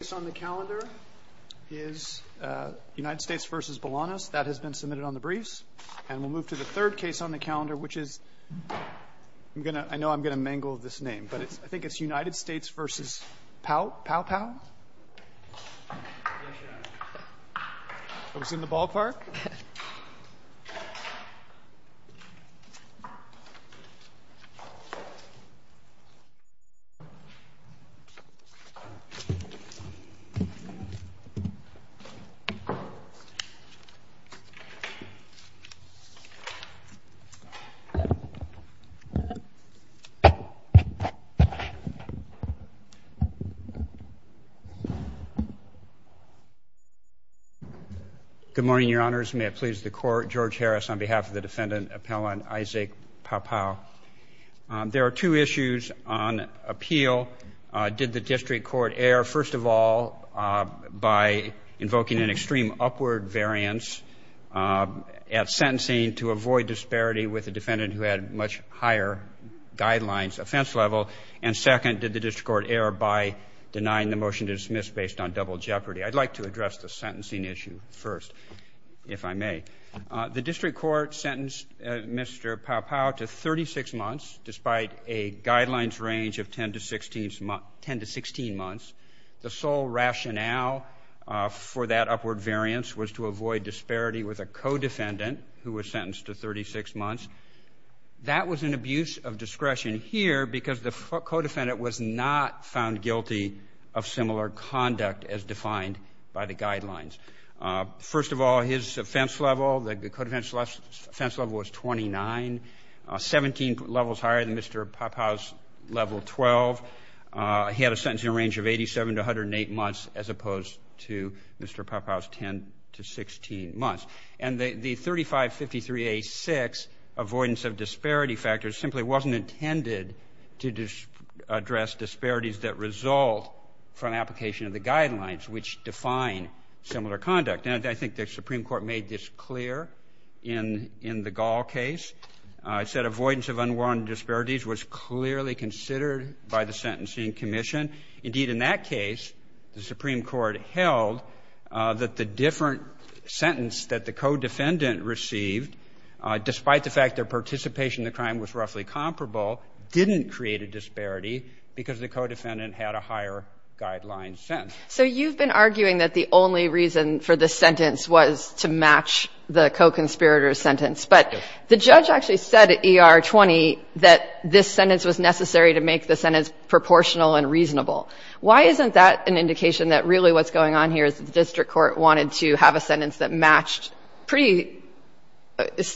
United States v. Bolanos Good morning, Your Honors. May it please the Court, George Harris on behalf of the Defendant Appellant Isaack Paopao. There are two issues on appeal. Did the District Court err, first of all, by invoking an extreme upward variance at sentencing to avoid disparity with a defendant who had much higher guidelines offense level? And second, did the District Court err by denying the motion to dismiss based on double jeopardy? I'd like to address the sentencing issue first, if I may. The District Court sentenced Mr. Paopao to 36 months, despite a guidelines range of 10 to 16 months. The sole rationale for that upward variance was to avoid disparity with a co-defendant who was sentenced to 36 months. That was an abuse of discretion here because the co-defendant was not found guilty of similar conduct as defined by the guidelines. First of all, his offense level, the co-defendant's offense level was 29, 17 levels higher than Mr. Paopao's level 12. He had a sentencing range of 87 to 108 months, as opposed to Mr. Paopao's 10 to 16 months. And the 3553A6 avoidance of disparity factors simply wasn't intended to address disparities that result from application of the guidelines, which define similar conduct. And I think the Supreme Court made this clear in the Gall case. It said avoidance of unwarranted disparities was clearly considered by the sentencing commission. Indeed, in that case, the Supreme Court held that the different sentence that the co-defendant received, despite the fact their participation in the crime was roughly comparable, didn't create a disparity because the co-defendant had a higher guideline sentence. So you've been arguing that the only reason for this sentence was to match the co-conspirator's sentence. But the judge actually said at ER 20 that this sentence was necessary to make the sentence proportional and reasonable. Why isn't that an indication that really what's going on here is the district court wanted to have a sentence that matched pretty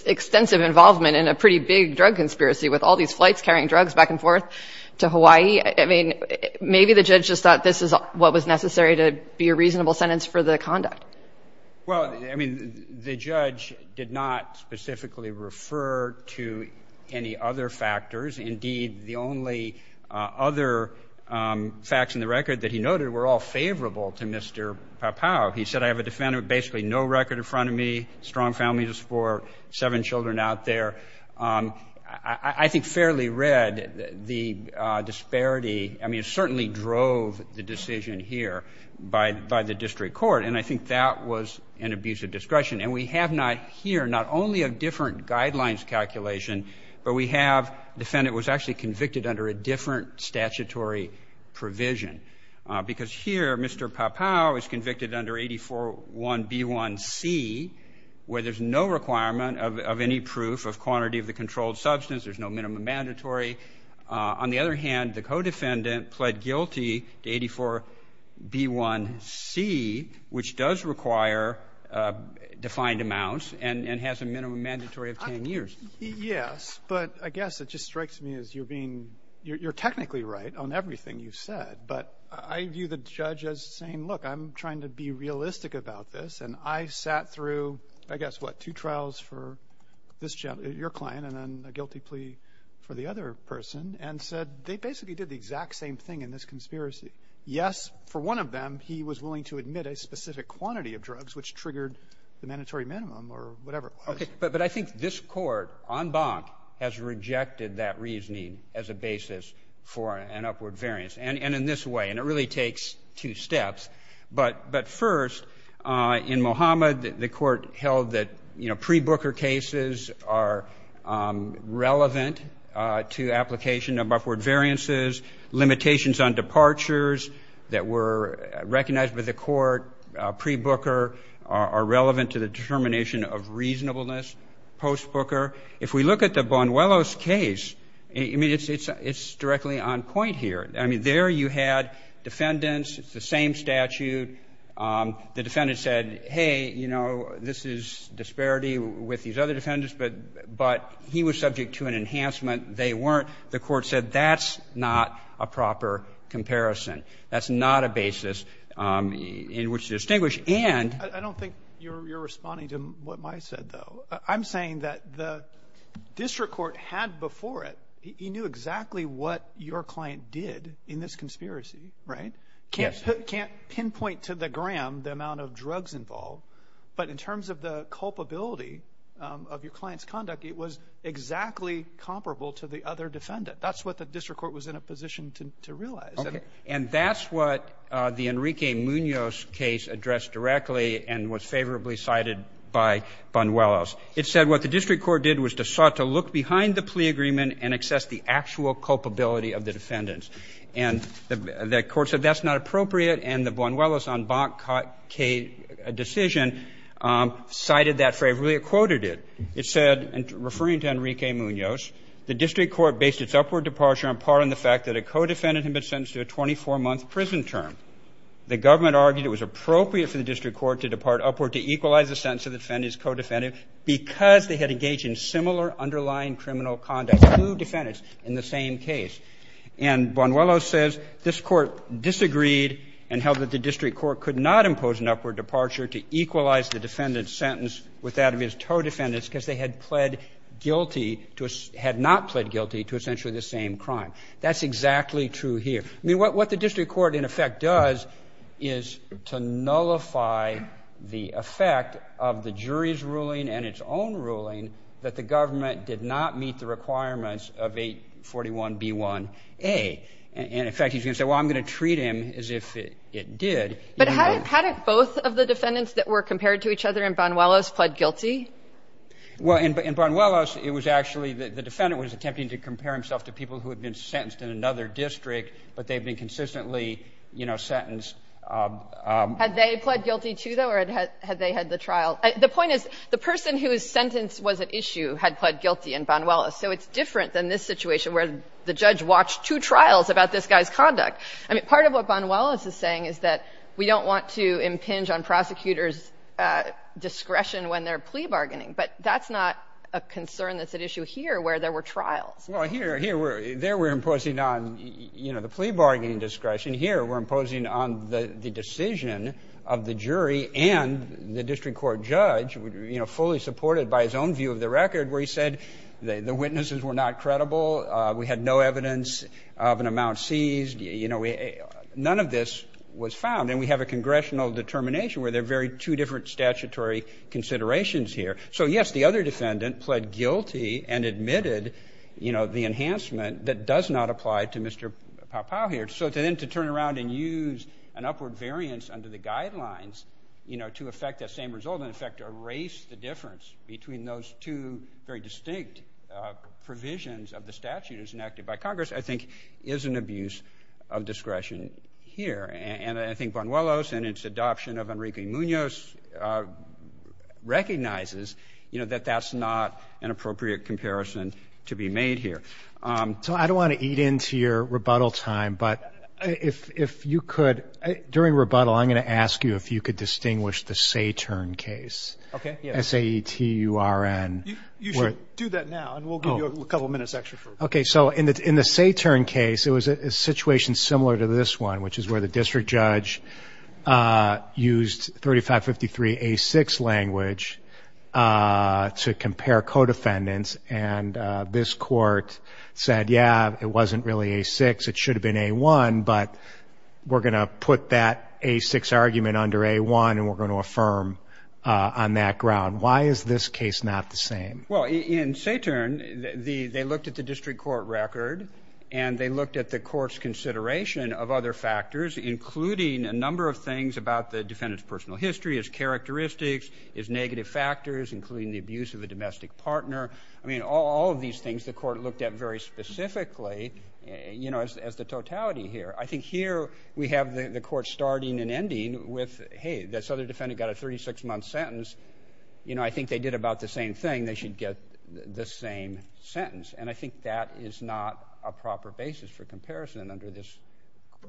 extensive involvement in a pretty big drug conspiracy with all these flights carrying drugs back and forth to Hawaii? I mean, maybe the judge just thought this is what was necessary to be a reasonable sentence for the conduct. Well, I mean, the judge did not specifically refer to any other factors. Indeed, the only other facts in the record that he noted were all favorable to Mr. Pau-Pau. He said, I have a defendant with basically no record in front of me, strong families of sport, seven children out there. I think fairly read, the disparity, I mean, certainly drove the decision here by the district court. And I think that was an abuse of discretion. And we have not here not only a different guidelines calculation, but we have defendant was actually convicted under a different statutory provision. Because here, Mr. Pau-Pau was convicted under 84.1b1c, where there's no requirement of any proof of quantity of the controlled substance. There's no minimum mandatory. On the other hand, the co-defendant pled guilty to 84.1b1c, which does require defined amounts and has a minimum mandatory of 10 years. Yes. But I guess it just strikes me as you're being — you're technically right on everything you've said. But I view the judge as saying, look, I'm trying to be realistic about this. And I sat through, I guess, what, two trials for this gentleman, your client, and then a guilty plea for the other person, and said they basically did the exact same thing in this conspiracy. Yes, for one of them, he was willing to admit a specific quantity of drugs, which triggered the mandatory minimum or whatever it was. But I think this Court, en banc, has rejected that reasoning as a basis for an upward variance, and in this way. And it really takes two steps. But first, in Mohamed, the Court held that, you know, pre-Booker cases are relevant to application of upward variances. Limitations on departures that were recognized by the Court pre-Booker are relevant to the determination of reasonableness post-Booker. If we look at the Bonuelos case, I mean, it's directly on point here. I mean, there you had defendants. It's the same statute. The defendant said, hey, you know, this is disparity with these other defendants, but he was subject to an enhancement. They weren't. The Court said that's not a proper comparison. That's not a basis in which to distinguish. And — I don't think you're responding to what Mike said, though. I'm saying that the district court had before it, he knew exactly what your client did in this conspiracy, right? Yes. Can't pinpoint to the gram the amount of drugs involved. But in terms of the culpability of your client's conduct, it was exactly comparable to the other defendant. That's what the district court was in a position to realize. Okay. And that's what the Enrique Munoz case addressed directly and was favorably cited by Bonuelos. It said what the district court did was to sought to look behind the plea agreement and assess the actual culpability of the defendants. And the court said that's not appropriate, and the Bonuelos en banc decision cited that for a really en banc decision cited that for a really good reason. And the court quoted it. It said, and referring to Enrique Munoz, the district court based its upward departure on par on the fact that a co-defendant had been sentenced to a 24-month prison term. The government argued it was appropriate for the district court to depart upward to equalize the sentence of the defendant's co-defendant because they had engaged in similar underlying criminal conduct, two defendants in the same case. And Bonuelos says this court disagreed and held that the district court could not impose an upward departure to equalize the defendant's sentence with that of his co-defendants because they had pled guilty to a, had not met the requirements of 841B1A. And, in fact, he's going to say, well, I'm going to treat him as if it did. But how did both of the defendants that were compared to each other in Bonuelos pled guilty? Well, in Bonuelos, it was actually the defendant was attempting to compare himself to people who had been sentenced in another district, but they had been consistently, had they had the trial. The point is the person whose sentence was at issue had pled guilty in Bonuelos. So it's different than this situation where the judge watched two trials about this guy's conduct. I mean, part of what Bonuelos is saying is that we don't want to impinge on prosecutors' discretion when they're plea bargaining. But that's not a concern that's at issue here where there were trials. Well, here, here, there we're imposing on, you know, the plea bargaining discretion. Here we're imposing on the decision of the jury and the district court judge, you know, fully supported by his own view of the record where he said the witnesses were not credible. We had no evidence of an amount seized. You know, none of this was found. And we have a congressional determination where they're very two different statutory considerations here. So, yes, the other defendant pled guilty and admitted, you know, the enhancement that does not apply to Mr. Pau-Pau here. So then to turn around and use an upward variance under the guidelines, you know, to affect that same result and, in fact, erase the difference between those two very distinct provisions of the statute enacted by Congress, I think, is an abuse of discretion here. And I think Bonuelos and its adoption of Enrique Munoz recognizes, you know, that that's not an appropriate comparison to be made here. So I don't want to eat into your rebuttal time, but if you could, during rebuttal, I'm going to ask you if you could distinguish the Satern case. Okay. S-A-E-T-U-R-N. You should do that now, and we'll give you a couple minutes extra. Okay. So in the Satern case, it was a situation similar to this one, which is where the district judge used 3553A6 language to compare co-defendants, and this court said, yeah, it wasn't really A6, it should have been A1, but we're going to put that A6 argument under A1, and we're going to affirm on that ground. Why is this case not the same? Well, in Satern, they looked at the district court record, and they looked at the including a number of things about the defendant's personal history, his characteristics, his negative factors, including the abuse of a domestic partner. I mean, all of these things the court looked at very specifically, you know, as the totality here. I think here we have the court starting and ending with, hey, this other defendant got a 36-month sentence. You know, I think they did about the same thing. They should get the same sentence, and I think that is not a proper basis for comparison under this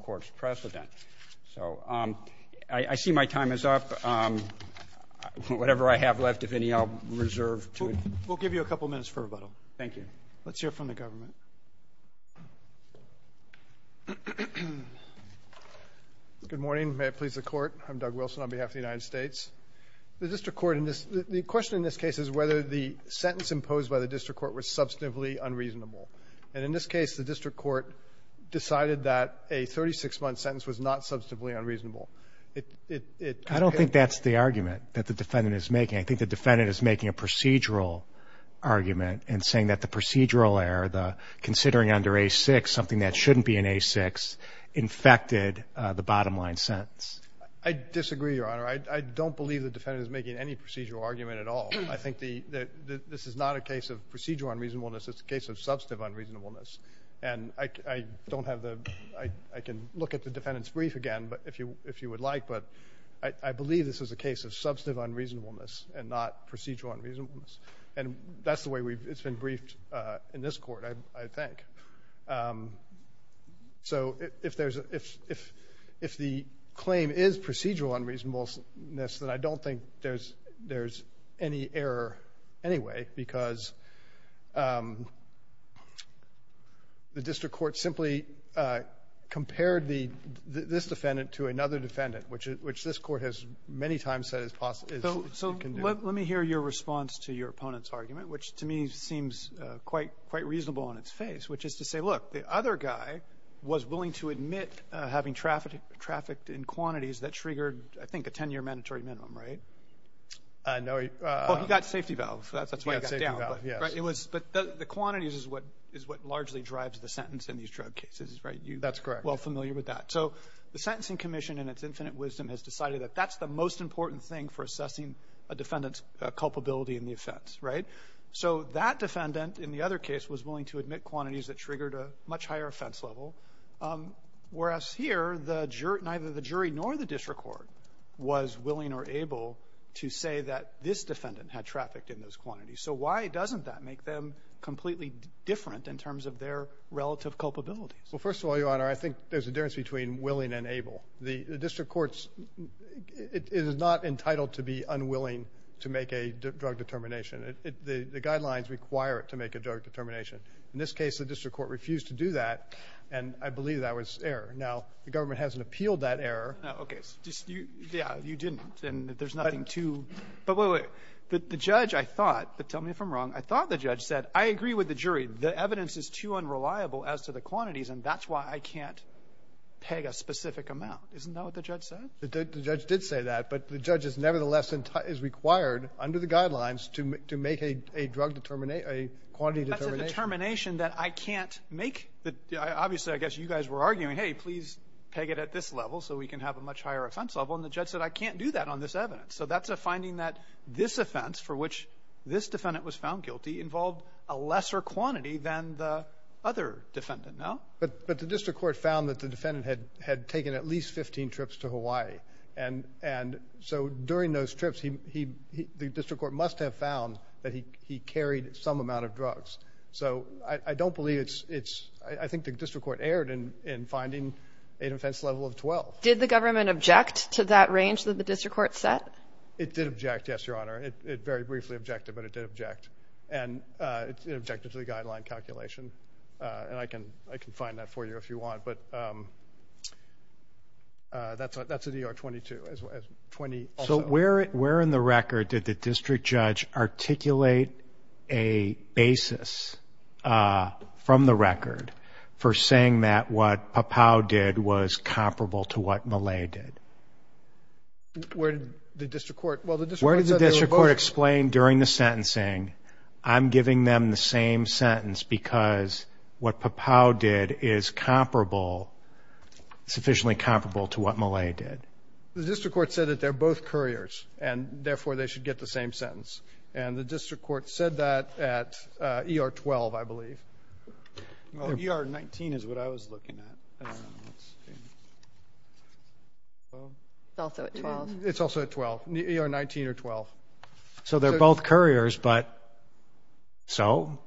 court's precedent. So I see my time is up. Whatever I have left, if any, I'll reserve to it. We'll give you a couple minutes for rebuttal. Thank you. Let's hear from the government. Good morning. May it please the Court. I'm Doug Wilson on behalf of the United States. The district court in this ‑‑ the question in this case is whether the sentence imposed by the district court was substantively unreasonable. And in this case, the district court decided that a 36-month sentence was not substantively unreasonable. It ‑‑ I don't think that's the argument that the defendant is making. I think the defendant is making a procedural argument and saying that the procedural error, the considering under A6 something that shouldn't be in A6, infected the bottom line sentence. I disagree, Your Honor. I don't believe the defendant is making any procedural argument at all. I think this is not a case of procedural unreasonableness. It's a case of substantive unreasonableness. And I don't have the ‑‑ I can look at the defendant's brief again, if you would like, but I believe this is a case of substantive unreasonableness and not procedural unreasonableness. And that's the way it's been briefed in this court, I think. So if there's ‑‑ if the claim is procedural unreasonableness, then I don't think there's any error anyway, because the district court simply compared the ‑‑ this defendant to another defendant, which this court has many times said is possible. So let me hear your response to your opponent's argument, which to me seems quite reasonable on its face, which is to say, look, the other guy was willing to admit having trafficked in quantities that triggered, I think, a 10‑year mandatory minimum, right? No. Well, he got safety valve. That's why he got down. He got safety valve, yes. But the quantities is what largely drives the sentence in these drug cases, right? That's correct. You're well familiar with that. So the Sentencing Commission, in its infinite wisdom, has decided that that's the most important thing for assessing a defendant's culpability in the offense, right? So that defendant, in the other case, was willing to admit quantities that triggered a much higher offense level, whereas here, neither the jury nor the district court was willing or able to say that this defendant had trafficked in those quantities. So why doesn't that make them completely different in terms of their relative culpability? Well, first of all, Your Honor, I think there's a difference between willing and able. The district court is not entitled to be unwilling to make a drug determination. The guidelines require it to make a drug determination. In this case, the district court refused to do that, and I believe that was error. Now, the government hasn't appealed that error. No, okay. Yeah, you didn't, and there's nothing to— But— But wait, wait. The judge, I thought—but tell me if I'm wrong—I thought the judge said, I agree with the jury, the evidence is too unreliable as to the quantities, and that's why I can't peg a specific amount. Isn't that what the judge said? The judge did say that, but the judge nevertheless is required, under the guidelines, to make a drug—a quantity determination. That's a determination that I can't make. Obviously, I guess you guys were arguing, hey, please peg it at this level so we can have a much higher offense level, and the judge said, I can't do that on this evidence. So that's a finding that this offense, for which this defendant was found guilty, involved a lesser quantity than the other defendant. No? But the district court found that the defendant had taken at least 15 trips to Hawaii, and so during those trips, the district court must have found that he carried some amount of drugs. So I don't believe it's—I think the district court erred in finding an offense level of 12. Did the government object to that range that the district court set? It did object, yes, Your Honor. It very briefly objected, but it did object. And it objected to the guideline calculation, and I can find that for you if you want. But that's an ER-22. So where in the record did the district judge articulate a basis from the record for saying that what Papao did was comparable to what Malay did? Where did the district court explain during the sentencing, I'm giving them the same sentence because what Papao did is comparable, sufficiently comparable to what Malay did? The district court said that they're both couriers, and therefore they should get the same sentence. And the district court said that at ER-12, I believe. ER-19 is what I was looking at. It's also at 12. It's also at 12, ER-19 or 12. So they're both couriers, but so?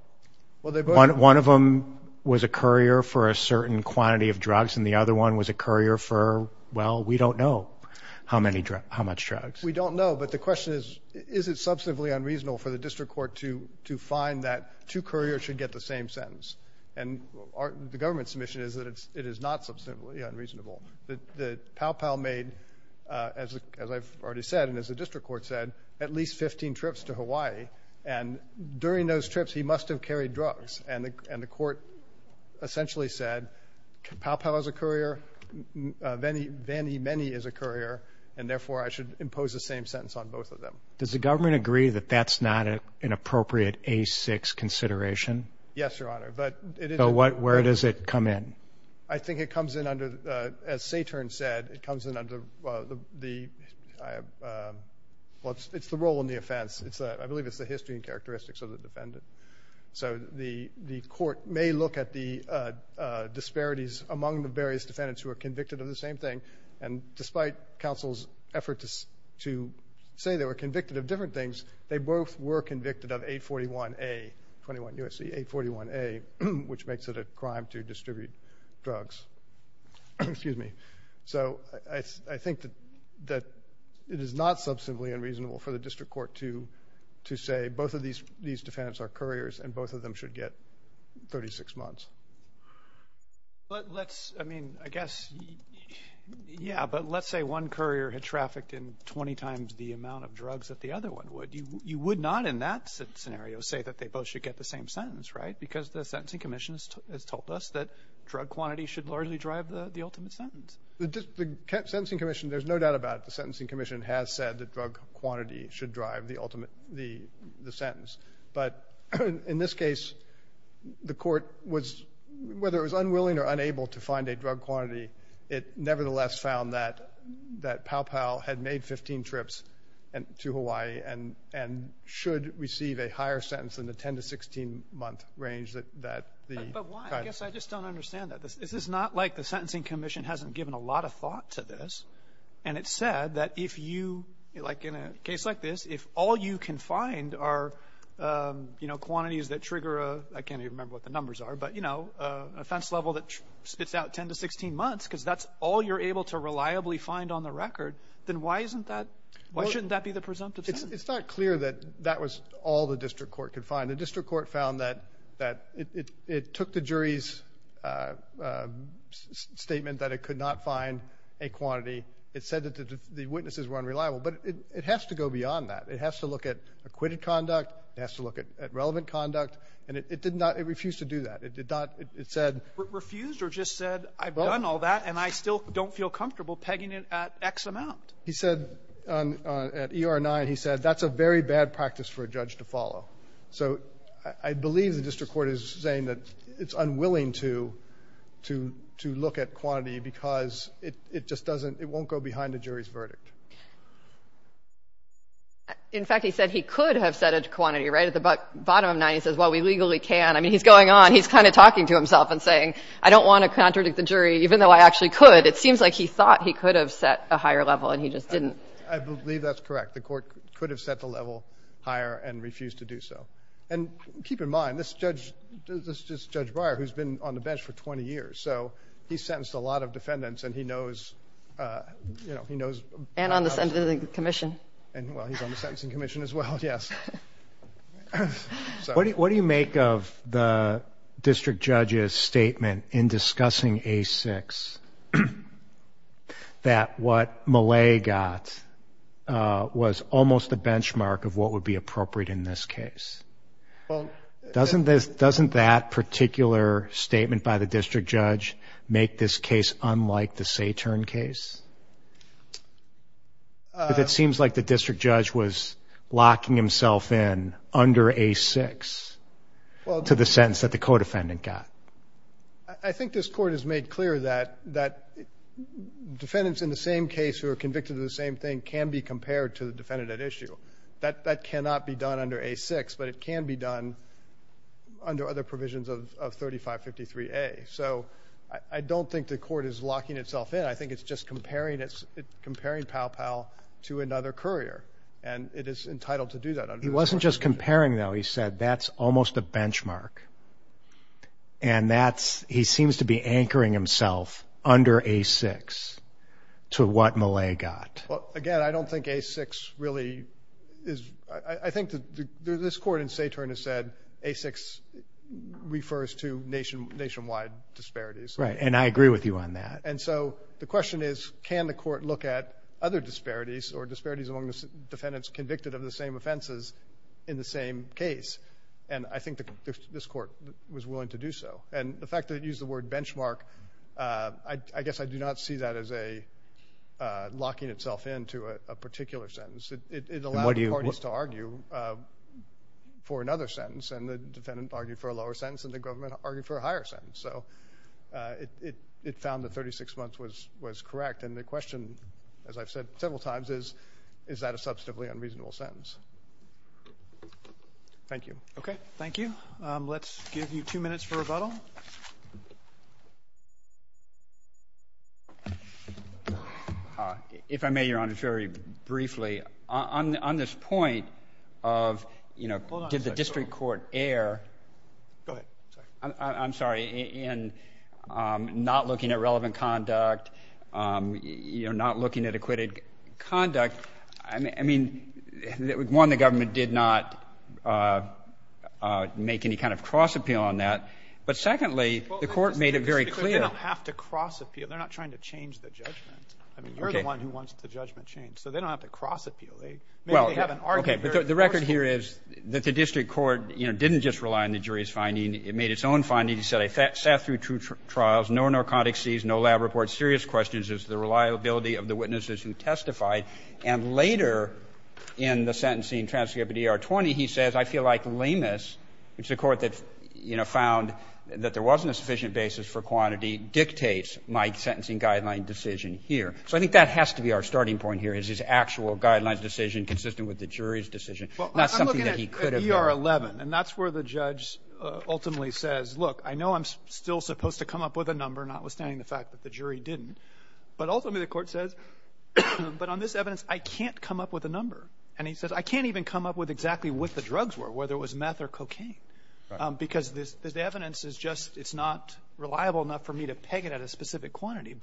Well, we don't know how much drugs. We don't know, but the question is, is it substantively unreasonable for the district court to find that two couriers should get the same sentence? And the government's submission is that it is not substantively unreasonable. Papao made, as I've already said and as the district court said, at least 15 trips to Hawaii. And during those trips, he must have carried drugs. And the court essentially said, Papao is a courier. Vanny Meni is a courier, and therefore I should impose the same sentence on both of them. Does the government agree that that's not an appropriate A6 consideration? Yes, Your Honor, but it is. So where does it come in? I think it comes in under, as Saturn said, it comes in under the, well, it's the role in the offense. I believe it's the history and characteristics of the defendant. So the court may look at the disparities among the various defendants who are convicted of the same thing, and despite counsel's effort to say they were convicted of different things, they both were convicted of 841A, 21 U.S.C. 841A, which makes it a crime to distribute drugs. Excuse me. So I think that it is not substantively unreasonable for the district court to say both of these defendants are couriers and both of them should get 36 months. But let's, I mean, I guess, yeah, but let's say one courier had trafficked in 20 times the amount of drugs that the other one would. You would not in that scenario say that they both should get the same sentence, right? Because the Sentencing Commission has told us that drug quantity should largely drive the ultimate sentence. The Sentencing Commission, there's no doubt about it, the Sentencing Commission has said that drug quantity should drive the ultimate, the sentence. But in this case, the court was, whether it was unwilling or unable to find a drug quantity, it nevertheless found that Pau-Pau had made 15 trips to Hawaii and should receive a higher sentence in the 10 to 16-month range that the kind of. But why? I guess I just don't understand that. This is not like the Sentencing Commission hasn't given a lot of thought to this. And it said that if you, like in a case like this, if all you can find are, you know, quantities that trigger a, I can't even remember what the numbers are, but, you know, a offense level that spits out 10 to 16 months because that's all you're able to reliably find on the record, then why isn't that, why shouldn't that be the presumptive sentence? It's not clear that that was all the district court could find. The district court found that it took the jury's statement that it could not find a quantity. It said that the witnesses were unreliable. But it has to go beyond that. It has to look at acquitted conduct. It has to look at relevant conduct. And it did not, it refused to do that. It did not, it said. Refused or just said, I've done all that and I still don't feel comfortable pegging it at X amount. He said, at ER 9, he said, that's a very bad practice for a judge to follow. So I believe the district court is saying that it's unwilling to look at quantity because it just doesn't, it won't go behind the jury's verdict. In fact, he said he could have said a quantity, right, at the bottom of 9. He says, well, we legally can. I mean, he's going on, he's kind of talking to himself and saying, I don't want to contradict the jury even though I actually could. It seems like he thought he could have set a higher level and he just didn't. I believe that's correct. The court could have set the level higher and refused to do so. And keep in mind, this judge, this is Judge Breyer who's been on the bench for 20 years. So he's sentenced a lot of defendants and he knows, you know, he knows. And on the sentencing commission. And, well, he's on the sentencing commission as well, yes. What do you make of the district judge's statement in discussing A-6 that what Millay got was almost a benchmark of what would be appropriate in this case? Doesn't that particular statement by the district judge make this case unlike the Saturn case? But it seems like the district judge was locking himself in under A-6 to the sentence that the co-defendant got. I think this court has made clear that defendants in the same case who are convicted of the same thing can be compared to the defendant at issue. That cannot be done under A-6, but it can be done under other provisions of 3553A. So I don't think the court is locking itself in. I think it's just comparing Pow-Pow to another courier, and it is entitled to do that. He wasn't just comparing, though. He said that's almost a benchmark. And he seems to be anchoring himself under A-6 to what Millay got. Well, again, I don't think A-6 really is. I think this court in Saturn has said A-6 refers to nationwide disparities. Right, and I agree with you on that. And so the question is, can the court look at other disparities or disparities among defendants convicted of the same offenses in the same case? And I think this court was willing to do so. And the fact that it used the word benchmark, I guess I do not see that as locking itself in to a particular sentence. It allowed parties to argue for another sentence, and the defendant argued for a lower sentence, and the government argued for a higher sentence. So it found that 36 months was correct. And the question, as I've said several times, is, is that a substantively unreasonable sentence? Thank you. Okay, thank you. Let's give you two minutes for rebuttal. If I may, Your Honor, very briefly, on this point of, you know, did the district court err? Go ahead. I'm sorry. In not looking at relevant conduct, you know, not looking at acquitted conduct, I mean, one, the government did not make any kind of cross appeal on that. But secondly, the court made it very clear. They don't have to cross appeal. They're not trying to change the judgment. I mean, you're the one who wants the judgment changed. So they don't have to cross appeal. Well, okay, but the record here is that the district court, you know, didn't just rely on the jury's finding. It made its own finding. It said, I sat through two trials, no narcotics seized, no lab reports, serious questions as to the reliability of the witnesses who testified. And later in the sentencing transcript of DR-20, he says, I feel like lameness, which is a court that, you know, found that there wasn't a sufficient basis for quantity, dictates my sentencing guideline decision here. So I think that has to be our starting point here, is this actual guidelines decision consistent with the jury's decision, not something that he could have done. And that's where the judge ultimately says, look, I know I'm still supposed to come up with a number, notwithstanding the fact that the jury didn't. But ultimately, the court says, but on this evidence, I can't come up with a number. And he says, I can't even come up with exactly what the drugs were, whether it was meth or cocaine, because this evidence is just, it's not reliable enough for me to peg it at a specific quantity.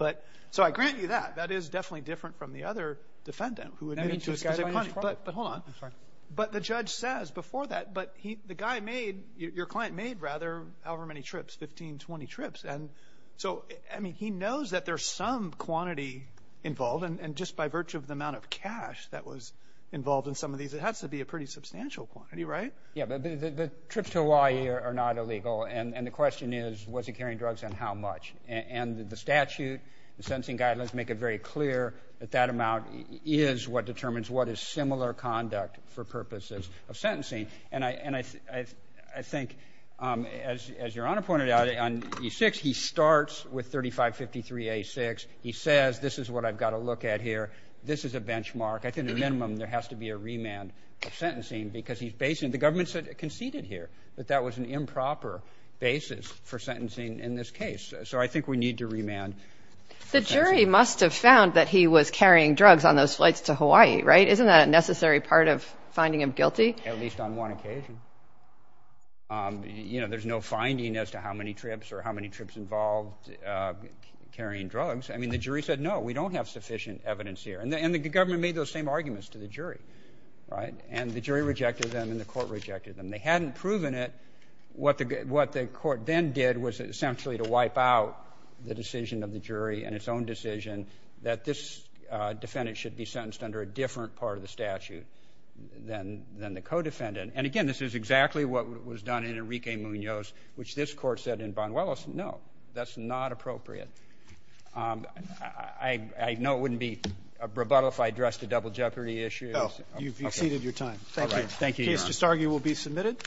So I grant you that. That is definitely different from the other defendant who admitted to a specific quantity. But hold on. I'm sorry. But the judge says before that, but the guy made, your client made, rather, however many trips, 15, 20 trips. And so, I mean, he knows that there's some quantity involved. And just by virtue of the amount of cash that was involved in some of these, it has to be a pretty substantial quantity, right? Yeah, but the trips to Hawaii are not illegal. And the question is, was he carrying drugs and how much? And the statute, the sentencing guidelines make it very clear that that amount is what determines what is similar conduct for purposes of sentencing. And I think, as Your Honor pointed out, on E6, he starts with 3553A6. He says, this is what I've got to look at here. This is a benchmark. I think, at a minimum, there has to be a remand of sentencing because he's basing it. The government conceded here that that was an improper basis for sentencing in this So I think we need to remand. The jury must have found that he was carrying drugs on those flights to Hawaii, right? Isn't that a necessary part of finding him guilty? At least on one occasion. You know, there's no finding as to how many trips or how many trips involved carrying drugs. I mean, the jury said, no, we don't have sufficient evidence here. And the government made those same arguments to the jury, right? And the jury rejected them and the court rejected them. They hadn't proven it. What the court then did was essentially to wipe out the decision of the jury and its own decision that this defendant should be sentenced under a different part of the statute than the co-defendant. And, again, this is exactly what was done in Enrique Munoz, which this court said in Von Willis. No, that's not appropriate. I know it wouldn't be a rebuttal if I addressed the double jeopardy issue. Thank you. Thank you, Your Honor. This case, I just argue, will be submitted.